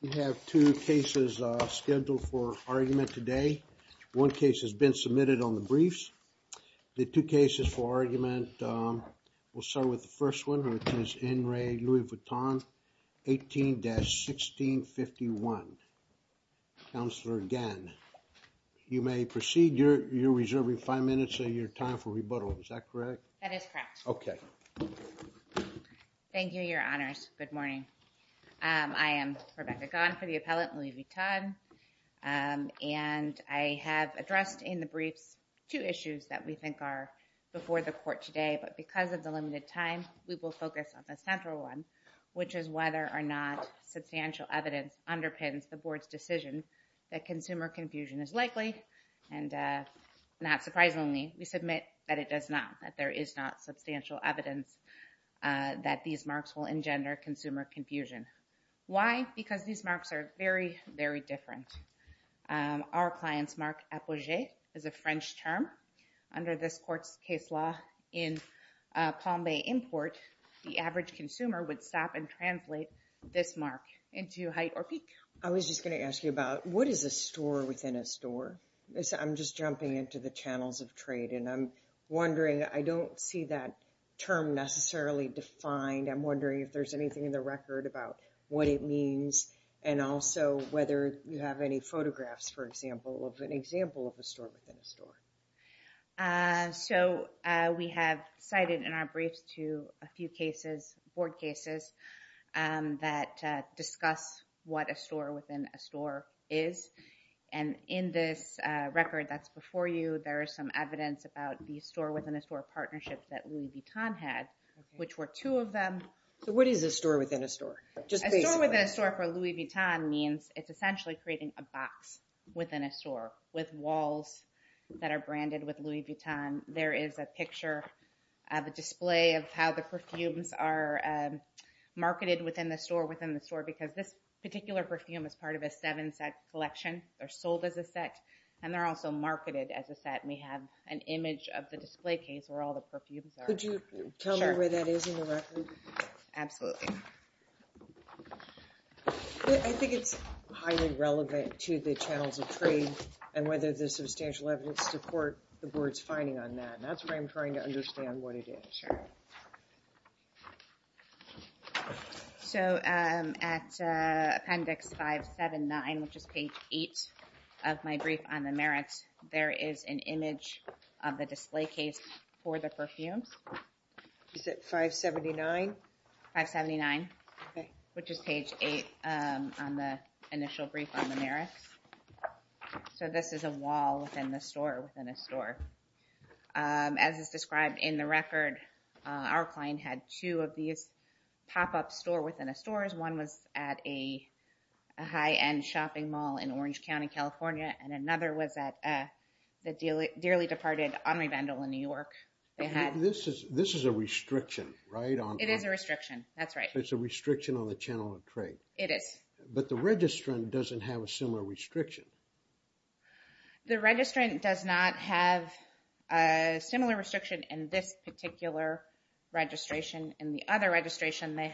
We have two cases scheduled for argument today. One case has been submitted on the briefs. The two cases for argument, we'll start with the first one, which is N. Ray Louis Vuitton, 18-1651. Counselor Gann, you may proceed. You're reserving five minutes of your time for rebuttal, is that correct? That is correct. Okay. Thank you, Your Honor. Thank you, Your Honors. Good morning. I am Rebecca Gann for the appellate Louis Vuitton, and I have addressed in the briefs two issues that we think are before the court today, but because of the limited time, we will focus on the central one, which is whether or not substantial evidence underpins the board's decision that consumer confusion is likely, and not surprisingly, we submit that there is not substantial evidence that these marks will engender consumer confusion. Why? Because these marks are very, very different. Our client's mark, appogee, is a French term. Under this court's case law in Palm Bay import, the average consumer would stop and translate this mark into height or peak. I was just going to ask you about, what is a store within a store? I'm just jumping into the channels of trade, and I'm wondering, I don't see that term necessarily defined. I'm wondering if there's anything in the record about what it means, and also whether you have any photographs, for example, of an example of a store within a store. So we have cited in our briefs to a few cases, board cases, that discuss what a store within a store is. And in this record that's before you, there is some evidence about the store within a store partnership that Louis Vuitton had, which were two of them. So what is a store within a store? A store within a store for Louis Vuitton means it's essentially creating a box within a store with walls that are branded with Louis Vuitton. There is a picture of a display of how the perfumes are marketed within the store, because this particular perfume is part of a seven-set collection. They're sold as a set, and they're also marketed as a set. We have an image of the display case where all the perfumes are. Could you tell me where that is in the record? Absolutely. I think it's highly relevant to the channels of trade, and whether there's substantial evidence to court the board's finding on that, and that's why I'm trying to understand what it is. Sure. So at appendix 579, which is page 8 of my brief on the merits, there is an image of the display case for the perfumes. Is it 579? 579, which is page 8 on the initial brief on the merits. So this is a wall within the store within a store. As is described in the record, our client had two of these pop-up store within a store. One was at a high-end shopping mall in Orange County, California, and another was at the dearly departed Henri Vendel in New York. This is a restriction, right? It is a restriction. That's right. It's a restriction on the channel of trade. It is. But the registrant doesn't have a similar restriction. The registrant does not have a similar restriction in this particular registration. In the other registration, they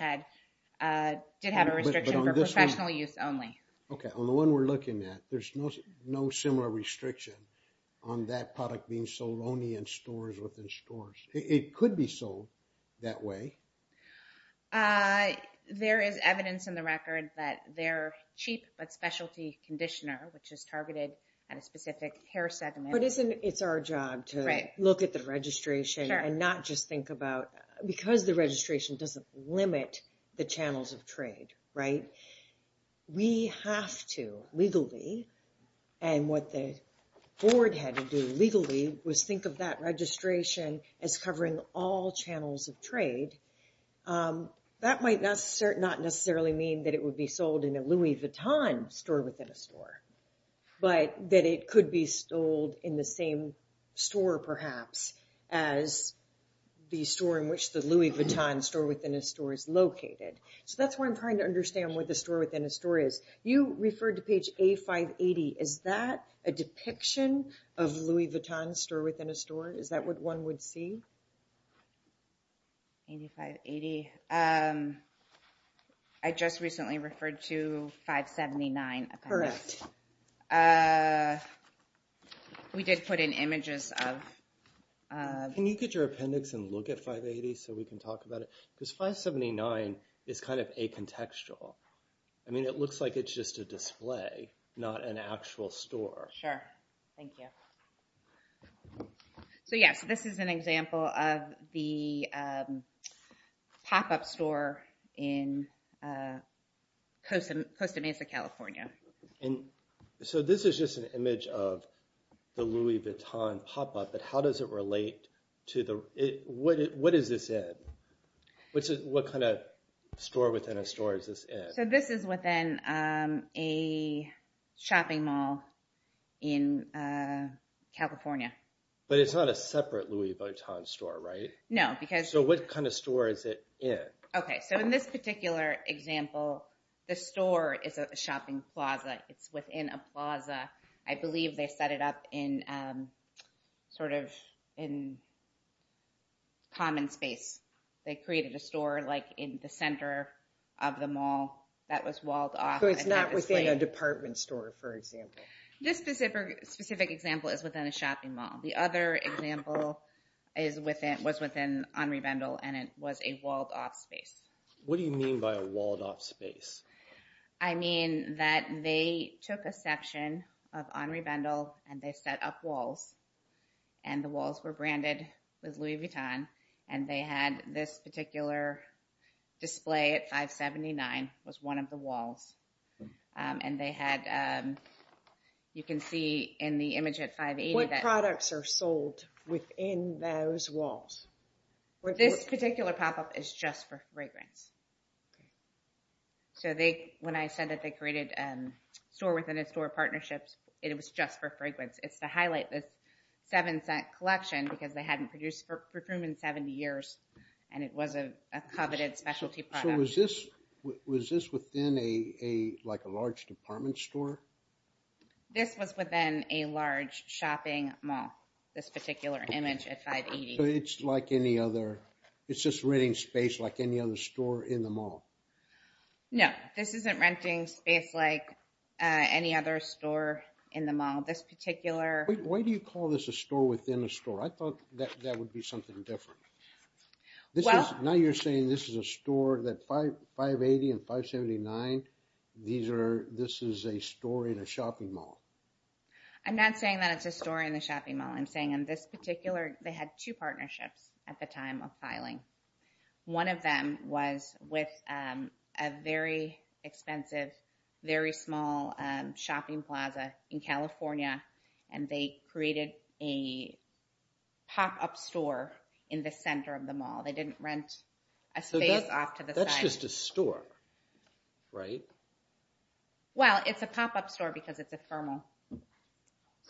did have a restriction for professional use only. Okay. On the one we're looking at, there's no similar restriction on that product being sold only in stores within stores. It could be sold that way. There is evidence in the record that they're cheap but specialty conditioner, which is targeted at a specific hair segment. It's our job to look at the registration and not just think about... Because the registration doesn't limit the channels of trade, right? We have to legally, and what the board had to do legally was think of that registration as covering all channels of trade. That might not necessarily mean that it would be sold in a Louis Vuitton store within a store, but that it could be sold in the same store perhaps as the store in which the Louis Vuitton store within a store is located. That's where I'm trying to understand what the store within a store is. You referred to page A580. Is that what one would see? A580. I just recently referred to 579 appendix. Correct. We did put in images of... Can you get your appendix and look at 580 so we can talk about it? Because 579 is kind of acontextual. It looks like it's just a display, not an actual store. Sure. Thank you. So yes, this is an example of the pop-up store in Costa Mesa, California. So this is just an image of the Louis Vuitton pop-up, but how does it relate to the... What is this in? What kind of store within a store is this in? So this is within a shopping mall in California. But it's not a separate Louis Vuitton store, right? No, because... So what kind of store is it in? Okay. So in this particular example, the store is a shopping plaza. It's within a plaza. I believe they set it up in sort of in common space. They created a store like in the center of the mall that was walled off. So it's not within a department store, for example. This specific example is within a shopping mall. The other example was within Henri Bendel, and it was a walled-off space. What do you mean by a walled-off space? I mean that they took a section of Henri Bendel, and they set up walls, and the walls were And this particular display at 579 was one of the walls, and they had... You can see in the image at 580 that... What products are sold within those walls? This particular pop-up is just for fragrance. So when I said that they created a store within a store partnerships, it was just for fragrance. It's to highlight this seven-cent collection, because they hadn't produced perfume in 70 years, and it was a coveted specialty product. So was this within a large department store? This was within a large shopping mall, this particular image at 580. So it's like any other... It's just renting space like any other store in the mall? No, this isn't renting space like any other store in the mall. Why do you call this a store within a store? I thought that would be something different. Now you're saying this is a store that 580 and 579, this is a store in a shopping mall. I'm not saying that it's a store in a shopping mall. I'm saying in this particular... They had two partnerships at the time of filing. One of them was with a very expensive, very small shopping plaza in California, and they created a pop-up store in the center of the mall. They didn't rent a space off to the side. That's just a store, right? Well, it's a pop-up store because it's a thermal.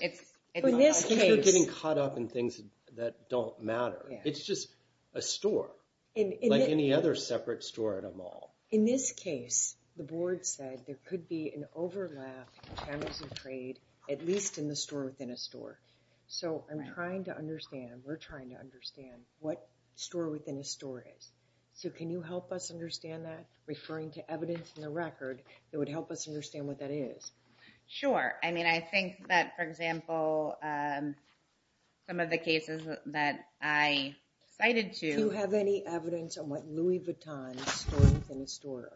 It's in a large case. You're getting caught up in things that don't matter. It's just a store like any other separate store in a mall. In this case, the board said there could be an overlap in channels of trade, at least in the store within a store. So I'm trying to understand, we're trying to understand what store within a store is. So can you help us understand that? Referring to evidence in the record, it would help us understand what that is. Sure. I mean, I think that, for example, some of the cases that I cited to... Do you have any evidence on what Louis Vuitton store within a store?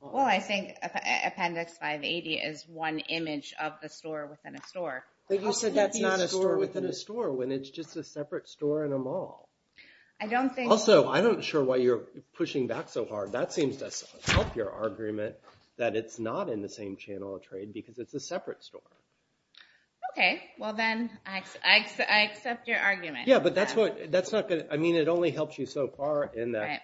Well, I think Appendix 580 is one image of the store within a store. But you said that's not a store within a store, when it's just a separate store in a mall. I don't think... Also, I'm not sure why you're pushing back so hard. That seems to help your argument that it's not in the same channel of trade because it's a separate store. Okay. Well, then I accept your argument. Yeah, but that's not good. I mean, it only helps you so far in that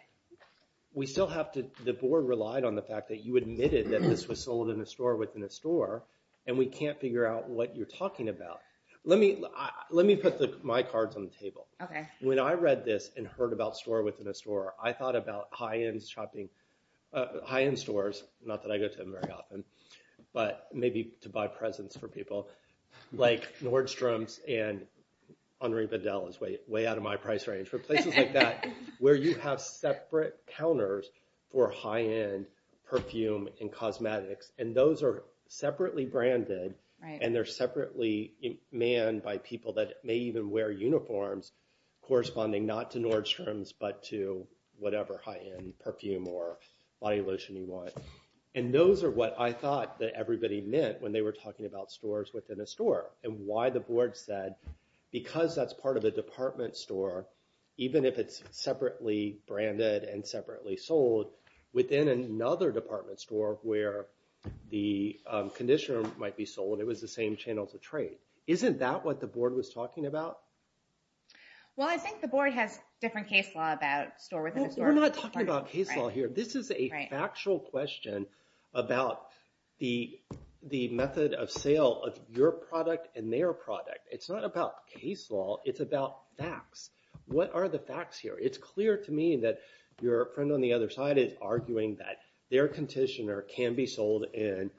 we still have to... The board relied on the fact that you admitted that this was sold in a store within a store, and we can't figure out what you're talking about. Let me put my cards on the table. Okay. When I read this and heard about store within a store, I thought about high-end shopping... High-end stores, not that I go to them very often, but maybe to buy presents for people. Like Nordstrom's and Henri Vidal is way out of my price range. But places like that, where you have separate counters for high-end perfume and cosmetics, and those are separately branded, and they're separately manned by people that may even wear uniforms corresponding not to Nordstrom's, but to whatever high-end perfume or body lotion you want. And those are what I thought that everybody meant when they were talking about stores within a store, and why the board said, because that's part of a department store, even if it's separately branded and separately sold within another department store where the conditioner might be sold, it was the same channel to trade. Isn't that what the board was talking about? Well, I think the board has different case law about store within a store. We're not talking about case law here. This is a factual question about the method of sale of your product and their product. It's not about case law. It's about facts. What are the facts here? It's clear to me that your friend on the other side is arguing that their conditioner can be sold in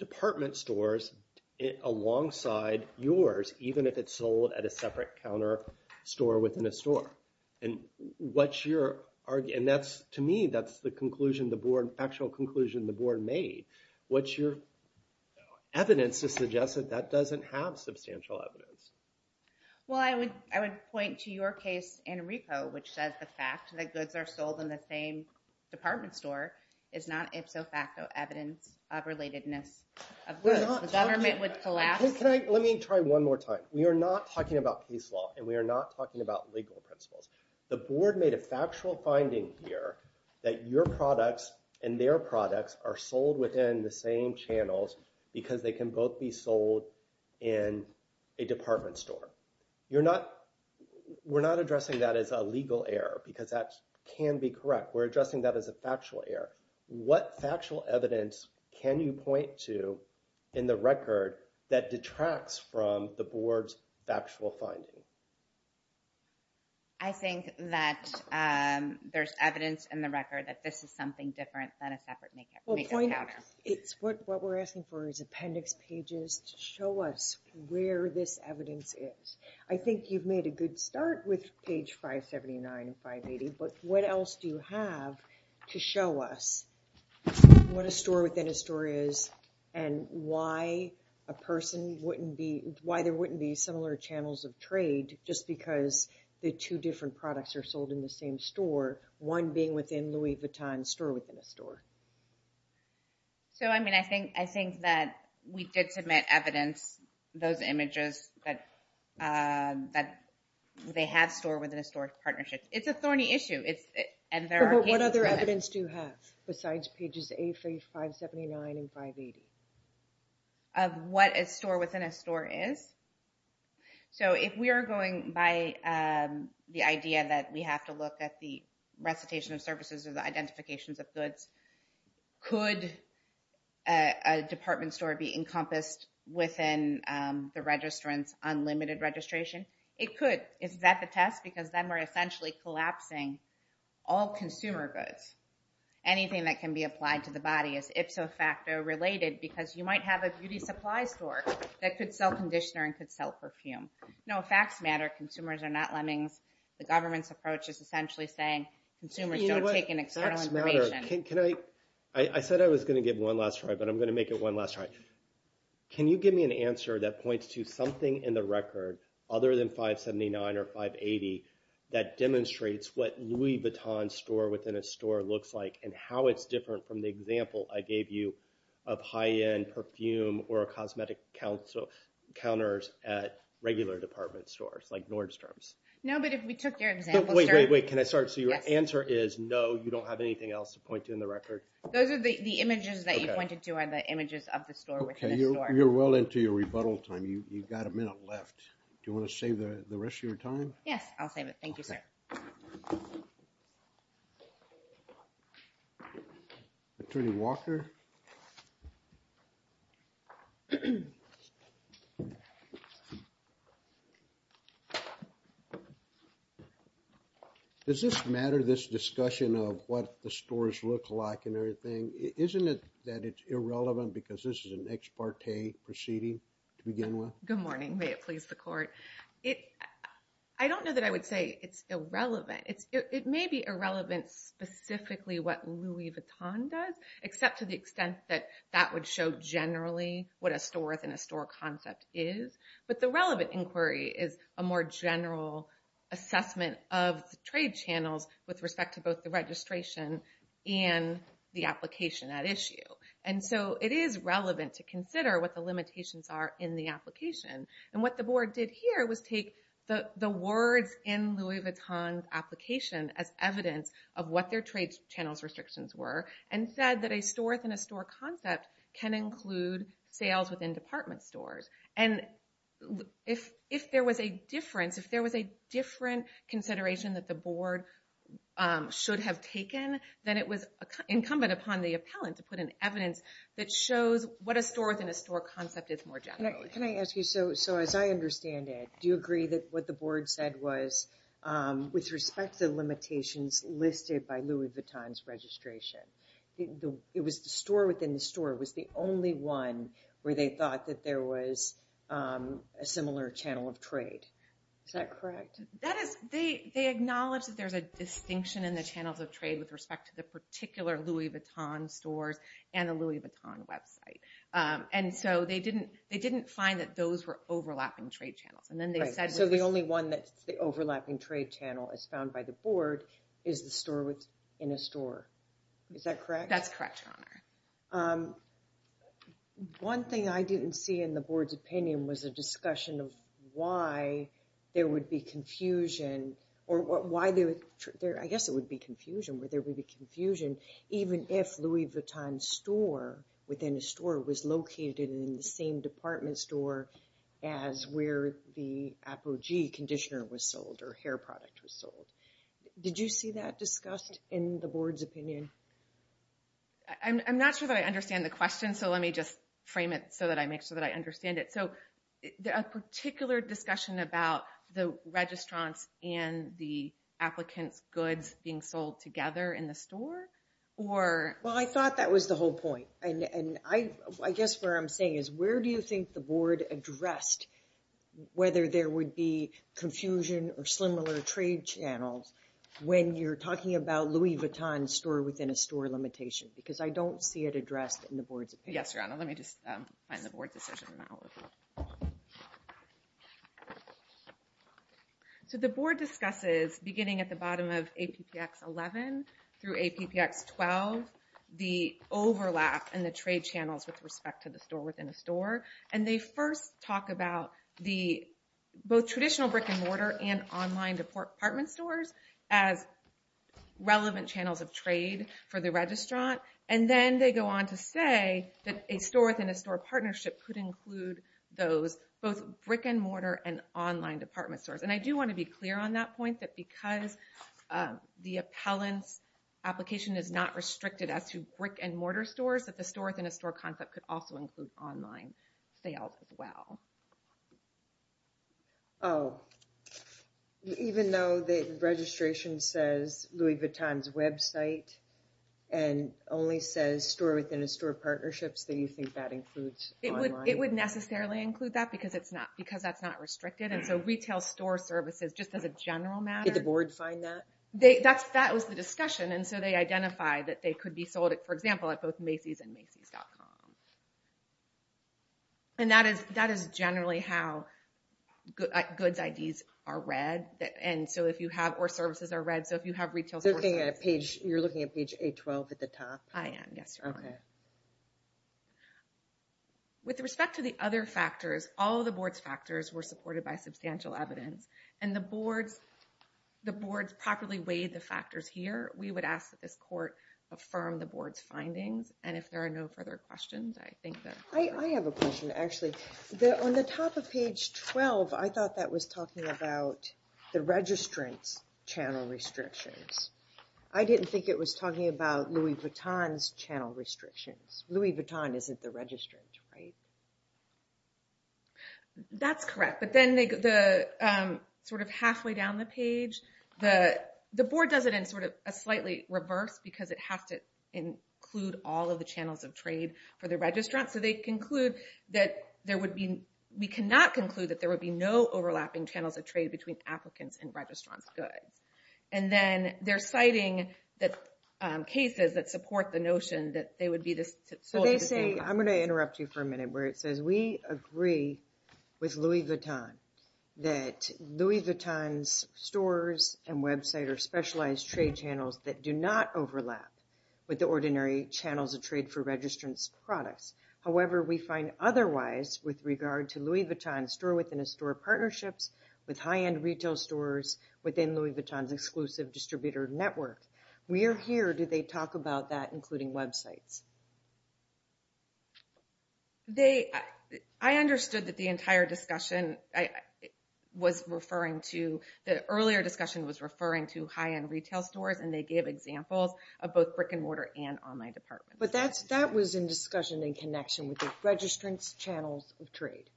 department stores alongside yours, even if it's sold at a separate counter store within a store. And to me, that's the actual conclusion the board made. What's your evidence to suggest that that doesn't have substantial evidence? Well, I would point to your case in RICO, which says the fact that goods are sold in the same department store is not ipso facto evidence of relatedness of goods. The government would collapse. Let me try one more time. We are not talking about case law, and we are not talking about legal principles. The board made a factual finding here that your products and their products are sold within the same channels because they can both be sold in a department store. We're not addressing that as a legal error, because that can be correct. We're addressing that as a factual error. What factual evidence can you point to in the record that detracts from the board's factual finding? I think that there's evidence in the record that this is something different than a separate makeup counter. It's what we're asking for is appendix pages to show us where this evidence is. I think you've made a good start with page 579 and 580, but what else do you have to show us what a store within a store is and why there wouldn't be similar channels of trade just because the two different products are sold in the same store, one being within Louis Vuitton's store within a store? So I mean, I think that we did submit evidence, those images, that they have store within a store partnerships. It's a thorny issue, and there are cases for that. Besides pages 8, 579, and 580. Of what a store within a store is? So if we are going by the idea that we have to look at the recitation of services or the identifications of goods, could a department store be encompassed within the registrant's unlimited registration? It could. Is that the test? Because then we're essentially collapsing all consumer goods. Anything that can be applied to the body is ipso facto related because you might have a beauty supply store that could sell conditioner and could sell perfume. No, facts matter. Consumers are not lemmings. The government's approach is essentially saying consumers don't take in external information. I said I was going to give one last try, but I'm going to make it one last try. Can you give me an answer that points to something in the record other than 579 or 580 that demonstrates what Louis Vuitton's store within a store looks like and how it's different from the example I gave you of high-end perfume or cosmetic counters at regular department stores like Nordstrom's? No, but if we took your example, sir... Wait, wait, wait. Can I start? So your answer is no, you don't have anything else to point to in the record? Those are the images that you pointed to are the images of the store within the store. You're well into your rebuttal time. You've got a minute left. Do you want to save the rest of your time? Yes, I'll save it. Thank you, sir. Attorney Walker. Does this matter, this discussion of what the stores look like and everything? Isn't it that it's irrelevant because this is an ex parte proceeding to begin with? Good morning. May it please the court. I don't know that I would say it's irrelevant. It may be irrelevant specifically what Louis Vuitton does, except to the extent that that would show generally what a store within a store concept is. But the relevant inquiry is a more general assessment of the trade channels with respect to both the registration and the application at issue. And so it is relevant to consider what the limitations are in the application. And what the board did here was take the words in Louis Vuitton's application as evidence of what their trade channels restrictions were and said that a store within a store concept can include sales within department stores. And if there was a difference, if there was a different consideration that the board should have taken, then it was incumbent upon the appellant to put in evidence that shows what a store within a store concept is more generally. Can I ask you, so as I understand it, do you agree that what the board said was, with respect to the limitations listed by Louis Vuitton's registration, it was the store within the store was the only one where they thought that there was a similar channel of trade. Is that correct? That is, they acknowledge that there's a distinction in the channels of trade with respect to the particular Louis Vuitton stores and the Louis Vuitton website. And so they didn't find that those were overlapping trade channels. And then they said... So the only one that's the overlapping trade channel as found by the board is the store within a store. Is that correct? That's correct, Your Honor. One thing I didn't see in the board's opinion was a discussion of why there would be confusion, or why there, I guess it would be confusion, where there would be confusion even if Louis Vuitton's store within a store was located in the same department store as where the Apogee conditioner was sold or hair product was sold. Did you see that discussed in the board's opinion? I'm not sure that I understand the question, so let me just frame it so that I make sure that I understand it. So a particular discussion about the registrants and the applicants' goods being sold together in the store, or... Well, I thought that was the whole point. And I guess what I'm saying is, where do you think the board addressed whether there would be confusion or similar trade channels when you're talking about Louis Vuitton's store within a store limitation? Because I don't see it addressed in the board's opinion. Yes, Your Honor. Let me just find the board decision. So the board discusses beginning at the bottom of APPX 11 through APPX 12, the overlap and the trade channels with respect to the store within a store. And they first talk about the both traditional brick and mortar and online department stores as relevant channels of trade for the registrant. And then they go on to say that a store within a store partnership could include those both brick and mortar and online department stores. And I do want to be clear on that point that because the appellant's application is not restricted as to brick and mortar stores, that the store within a store concept could also include online sales as well. Oh, even though the registration says Louis Vuitton's website and only says store within a store partnerships, do you think that includes online? It would necessarily include that because that's not restricted. And so retail store services, just as a general matter... Did the board find that? That was the discussion. And so they identify that they could be sold, for example, at both Macy's and Macy's.com. And that is generally how goods IDs are read. And so if you have, or services are read. So if you have retail stores... You're looking at page 812 at the top? I am, yes, Your Honor. With respect to the other factors, all of the board's factors were supported by substantial evidence. And the board's properly weighed the factors here. We would ask that this court affirm the board's findings. And if there are no further questions, I think that... I have a question, actually. On the top of page 12, I thought that was talking about the registrant's channel restrictions. I didn't think it was talking about Louis Vuitton's channel restrictions. Louis Vuitton isn't the registrant, right? That's correct. But then halfway down the page, the board does it in a slightly reverse because it has to include all of the channels of trade for the registrant. So they conclude that there would be... We cannot conclude that there would be no overlapping channels of trade between applicants and registrants' goods. And then they're citing cases that support the notion that they would be... I'm going to interrupt you for a minute where it says, we agree with Louis Vuitton that Louis Vuitton's stores and website are specialized trade channels that do not overlap with the ordinary channels of trade for registrants' products. However, we find otherwise with regard to Louis Vuitton's store-within-a-store partnerships with high-end retail stores within Louis Vuitton's exclusive distributor network. We are here. Do they talk about that, including websites? They... I understood that the entire discussion was referring to... The earlier discussion was referring to high-end retail stores and they gave examples of both brick and mortar and online department. But that was in discussion in connection with the registrants' channels of trade,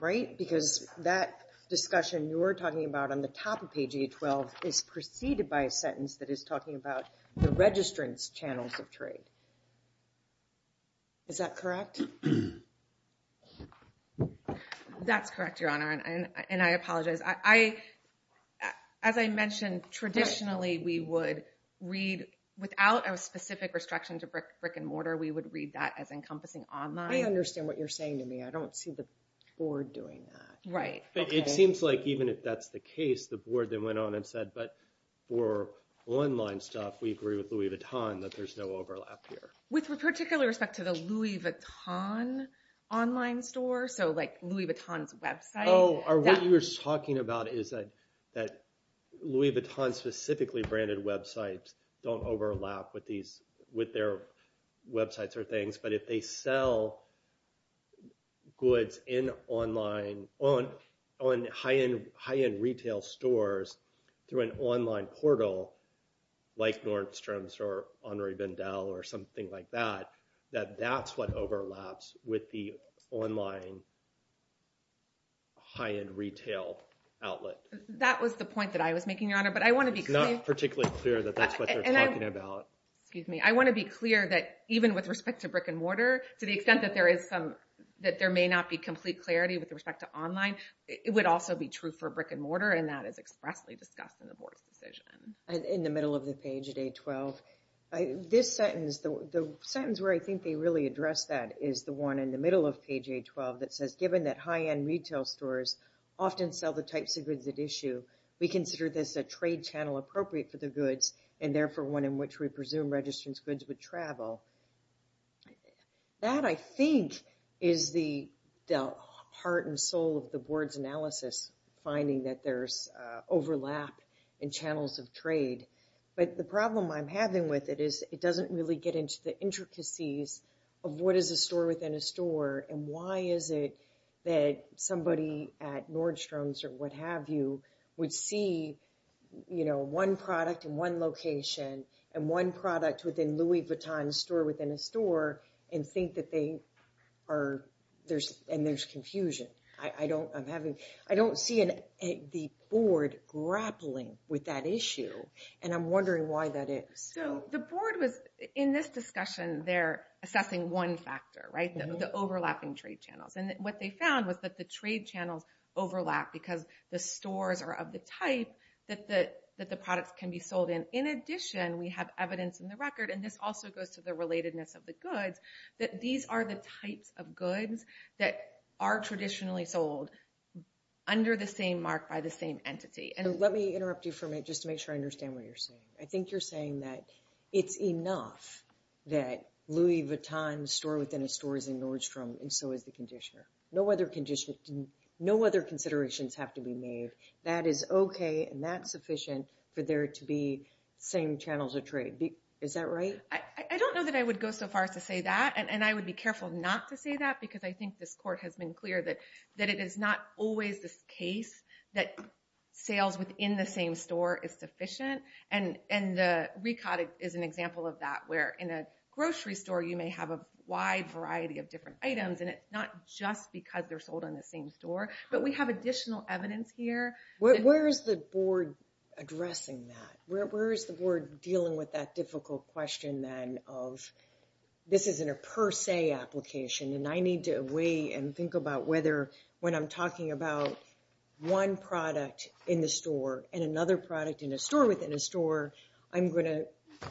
right? Because that discussion you're talking about on the top of page 812 is preceded by a sentence that is talking about the registrants' channels of trade. Is that correct? That's correct, Your Honor, and I apologize. As I mentioned, traditionally, we would read... Without a specific restriction to brick and mortar, we would read that as encompassing online. I understand what you're saying to me. I don't see the board doing that. Right. It seems like even if that's the case, the board then went on and said, but for online stuff, we agree with Louis Vuitton that there's no overlap here. With particular respect to the Louis Vuitton online store, so like Louis Vuitton's website... Oh, what you're talking about is that Louis Vuitton's specifically branded websites don't overlap with their websites or things. If they sell goods in high-end retail stores through an online portal, like Nordstrom's or Henri Vendel or something like that, that that's what overlaps with the online high-end retail outlet. That was the point that I was making, Your Honor, but I want to be clear... It's not particularly clear that that's what you're talking about. Excuse me. I want to be clear that even with respect to brick and mortar, to the extent that there may not be complete clarity with respect to online, it would also be true for brick and mortar, and that is expressly discussed in the board's decision. And in the middle of the page at A-12, this sentence, the sentence where I think they really addressed that is the one in the middle of page A-12 that says, given that high-end retail stores often sell the types of goods at issue, we consider this a trade channel appropriate for the goods and therefore one in which we presume registrants' goods would travel. That, I think, is the heart and soul of the board's analysis, finding that there's overlap in channels of trade. But the problem I'm having with it is it doesn't really get into the intricacies of what is a store within a store and why is it that somebody at Nordstrom's or what have you would see, you know, one product in one location and one product within Louis Vuitton's store within a store and think that they are, there's, and there's confusion. I don't, I'm having, I don't see the board grappling with that issue and I'm wondering why that is. So the board was, in this discussion, they're assessing one factor, right? The overlapping trade channels. And what they found was that the trade channels overlap because the stores are of the type that the products can be sold in. In addition, we have evidence in the record, and this also goes to the relatedness of the goods, that these are the types of goods that are traditionally sold under the same mark by the same entity. So let me interrupt you for a minute just to make sure I understand what you're saying. I think you're saying that it's enough that Louis Vuitton's store within a store is in Nordstrom and so is the conditioner. No other conditions, no other considerations have to be made. That is okay and that's sufficient for there to be same channels of trade. Is that right? I don't know that I would go so far as to say that, and I would be careful not to say that because I think this court has been clear that it is not always the case that sales within the same store is sufficient. And the recod is an example of that where in a grocery store you may have a wide variety of different items and it's not just because they're sold on the same store, but we have additional evidence here. Where is the board addressing that? Where is the board dealing with that difficult question then of this isn't a per se application and I need to weigh and think about whether when I'm talking about one product in the store and another product in a store within a store, I'm going to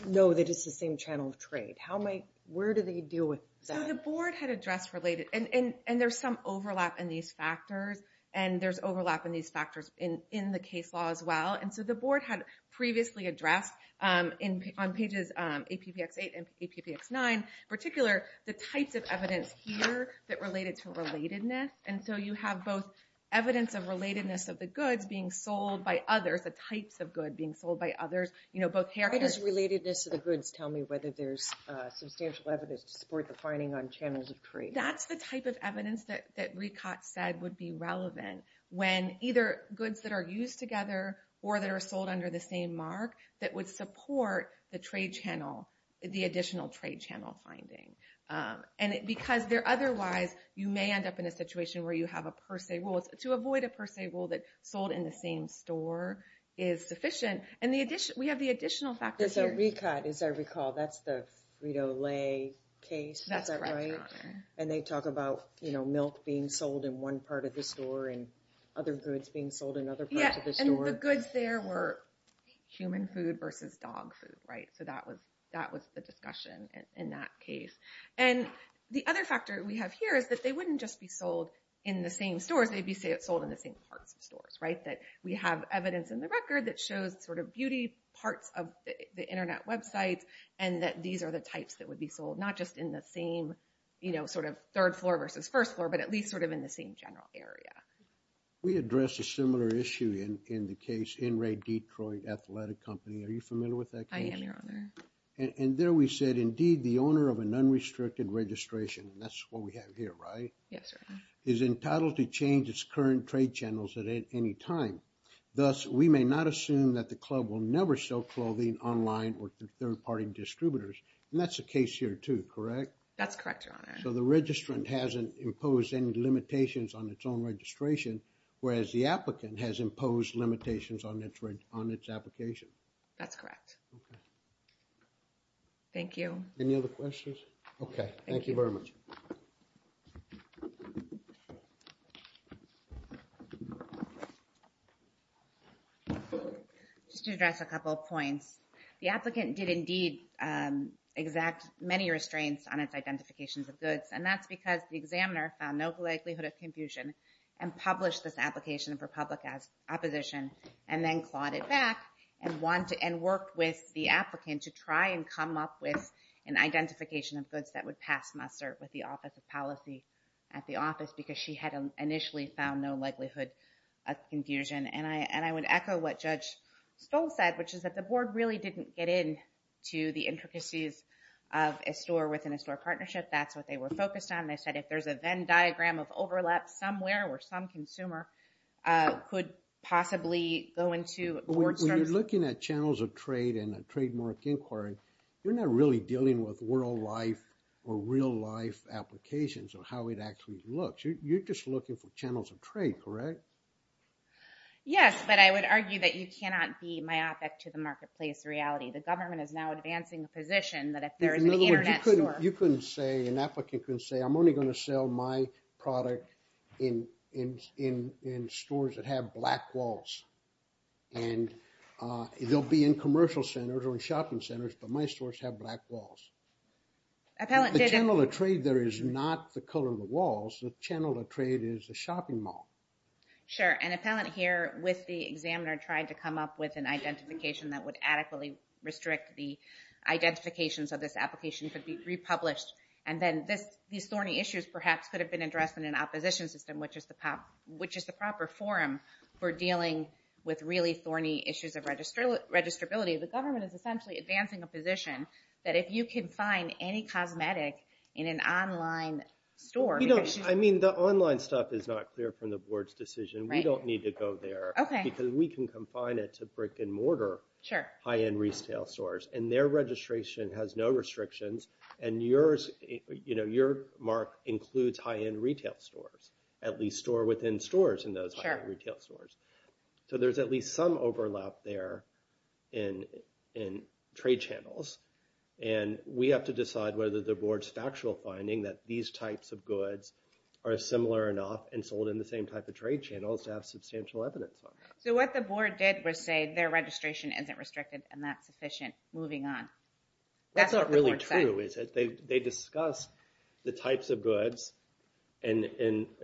know that it's the same channel of trade. How am I, where do they deal with that? The board had addressed related, and there's some overlap in these factors, and there's overlap in these factors in the case law as well. And so the board had previously addressed on pages APBX 8 and APBX 9, particular the types of evidence here that related to relatedness. And so you have both evidence of relatedness of the goods being sold by others, the types of good being sold by others, you know, both characters. How does relatedness of the goods tell me whether there's substantial evidence to support the finding on channels of trade? That's the type of evidence that that Ricott said would be relevant when either goods that are used together or that are sold under the same mark that would support the trade channel, the additional trade channel finding. And because there otherwise you may end up in a situation where you have a per se rule. To avoid a per se rule that sold in the same store is sufficient. And the addition, we have the additional factors here. Ricott, as I recall, that's the Frito-Lay case. That's right. And they talk about, you know, milk being sold in one part of the store and other goods being sold in other parts of the store. And the goods there were human food versus dog food, right? So that was the discussion in that case. And the other factor we have here is that they wouldn't just be sold in the same stores. They'd be sold in the same parts of stores, right? That we have evidence in the record that shows sort of beauty parts of the internet websites. And that these are the types that would be sold, not just in the same, you know, sort of third floor versus first floor, but at least sort of in the same general area. We addressed a similar issue in the case, in Ray Detroit Athletic Company. Are you familiar with that case? I am, your honor. And there we said, indeed, the owner of an unrestricted registration, and that's what we have here, right? Yes, sir. Is entitled to change its current trade channels at any time. Thus, we may not assume that the club will never sell clothing online or to third party distributors. And that's the case here too, correct? That's correct, your honor. So the registrant hasn't imposed any limitations on its own registration, whereas the applicant has imposed limitations on its application. That's correct. Thank you. Any other questions? Okay. Thank you very much. Just to address a couple of points, the applicant did indeed exact many restraints on its identifications of goods. And that's because the examiner found no likelihood of confusion and published this application for public opposition, and then clawed it back and worked with the applicant to try and come up with an identification of goods that would pass muster with the office of policy at the office, because she had initially found no likelihood of confusion and I would echo what Judge Stoll said, which is that the board really didn't get in to the intricacies of a store within a store partnership. That's what they were focused on. They said if there's a Venn diagram of overlap somewhere where some consumer could possibly go into board service. When you're looking at channels of trade and a trademark inquiry, you're not really dealing with world life or real life applications of how it actually looks. You're just looking for channels of trade, correct? Yes, but I would argue that you cannot be myopic to the marketplace reality. The government is now advancing the position that if there is an internet store... You couldn't say, an applicant couldn't say, I'm only going to sell my product in stores that have black walls. And they'll be in commercial centers or in shopping centers, but my stores have black walls. The channel of trade there is not the color of the walls. The channel of trade is the shopping mall. Sure, an appellant here with the examiner tried to come up with an identification that would adequately restrict the identification so this application could be republished. And then these thorny issues perhaps could have been addressed in an opposition system, which is the proper forum for dealing with really thorny issues of registrability. The government is essentially advancing a position that if you can find any cosmetic in an online store... The online stuff is not clear from the board's decision. We don't need to go there because we can confine it to brick and mortar high-end retail stores. And their registration has no restrictions. And yours, your mark includes high-end retail stores, at least store within stores in those retail stores. So there's at least some overlap there in trade channels. And we have to decide whether the board's factual finding that these types of goods are similar enough and sold in the same type of trade channels to have substantial evidence on that. So what the board did was say their registration isn't restricted and that's sufficient, moving on. That's not really true, is it? They discussed the types of goods and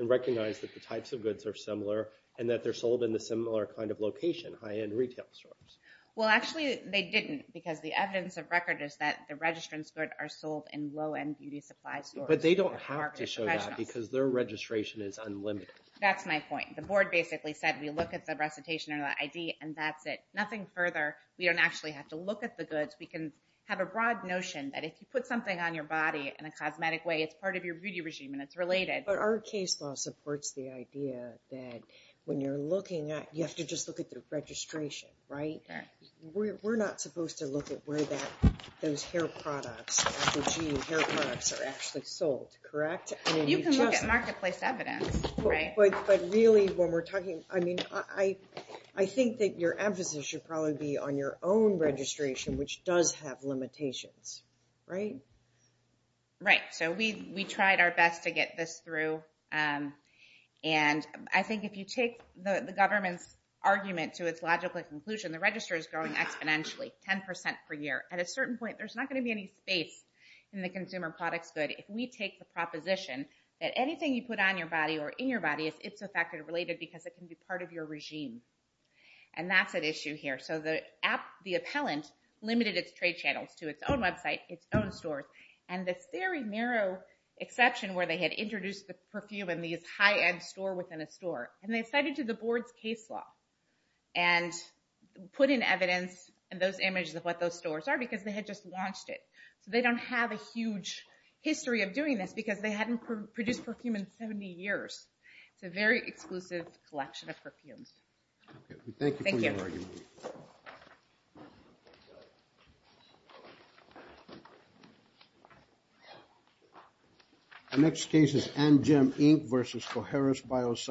recognized that the types of goods are similar and that they're sold in the similar kind of location, high-end retail stores. Well, actually they didn't because the evidence of record is that the registrants' goods are sold in low-end beauty supply stores. But they don't have to show that because their registration is unlimited. That's my point. The board basically said, we look at the recitation or the ID and that's it. Nothing further. We don't actually have to look at the goods. We can have a broad notion that if you put something on your body in a cosmetic way, it's part of your beauty regime and it's related. But our case law supports the idea that when you're looking at, you have to just look at the registration, right? We're not supposed to look at where that, those hair products, hair products are actually sold, correct? You can look at marketplace evidence, right? But really when we're talking, I mean, I think that your emphasis should probably be on your own registration, which does have limitations, right? Right. So we tried our best to get this through. And I think if you take the government's argument to its logical conclusion, the register is growing exponentially, 10% per year. At a certain point, there's not going to be any space in the consumer products good if we take the proposition that anything you put on your body or in your body, it's affected or related because it can be part of your regime. And that's an issue here. So the appellant limited its trade channels to its own website, its own stores. And this very narrow exception where they had introduced the perfume in these high-end store within a store and they cited to the board's case law and put in evidence and those images of what those stores are because they had just launched it. So they don't have a huge history of doing this because they hadn't produced perfume in 70 years. It's a very exclusive collection of perfumes. Okay, thank you for your argument. The next case is Angem Inc. versus Cojeras Bioscience.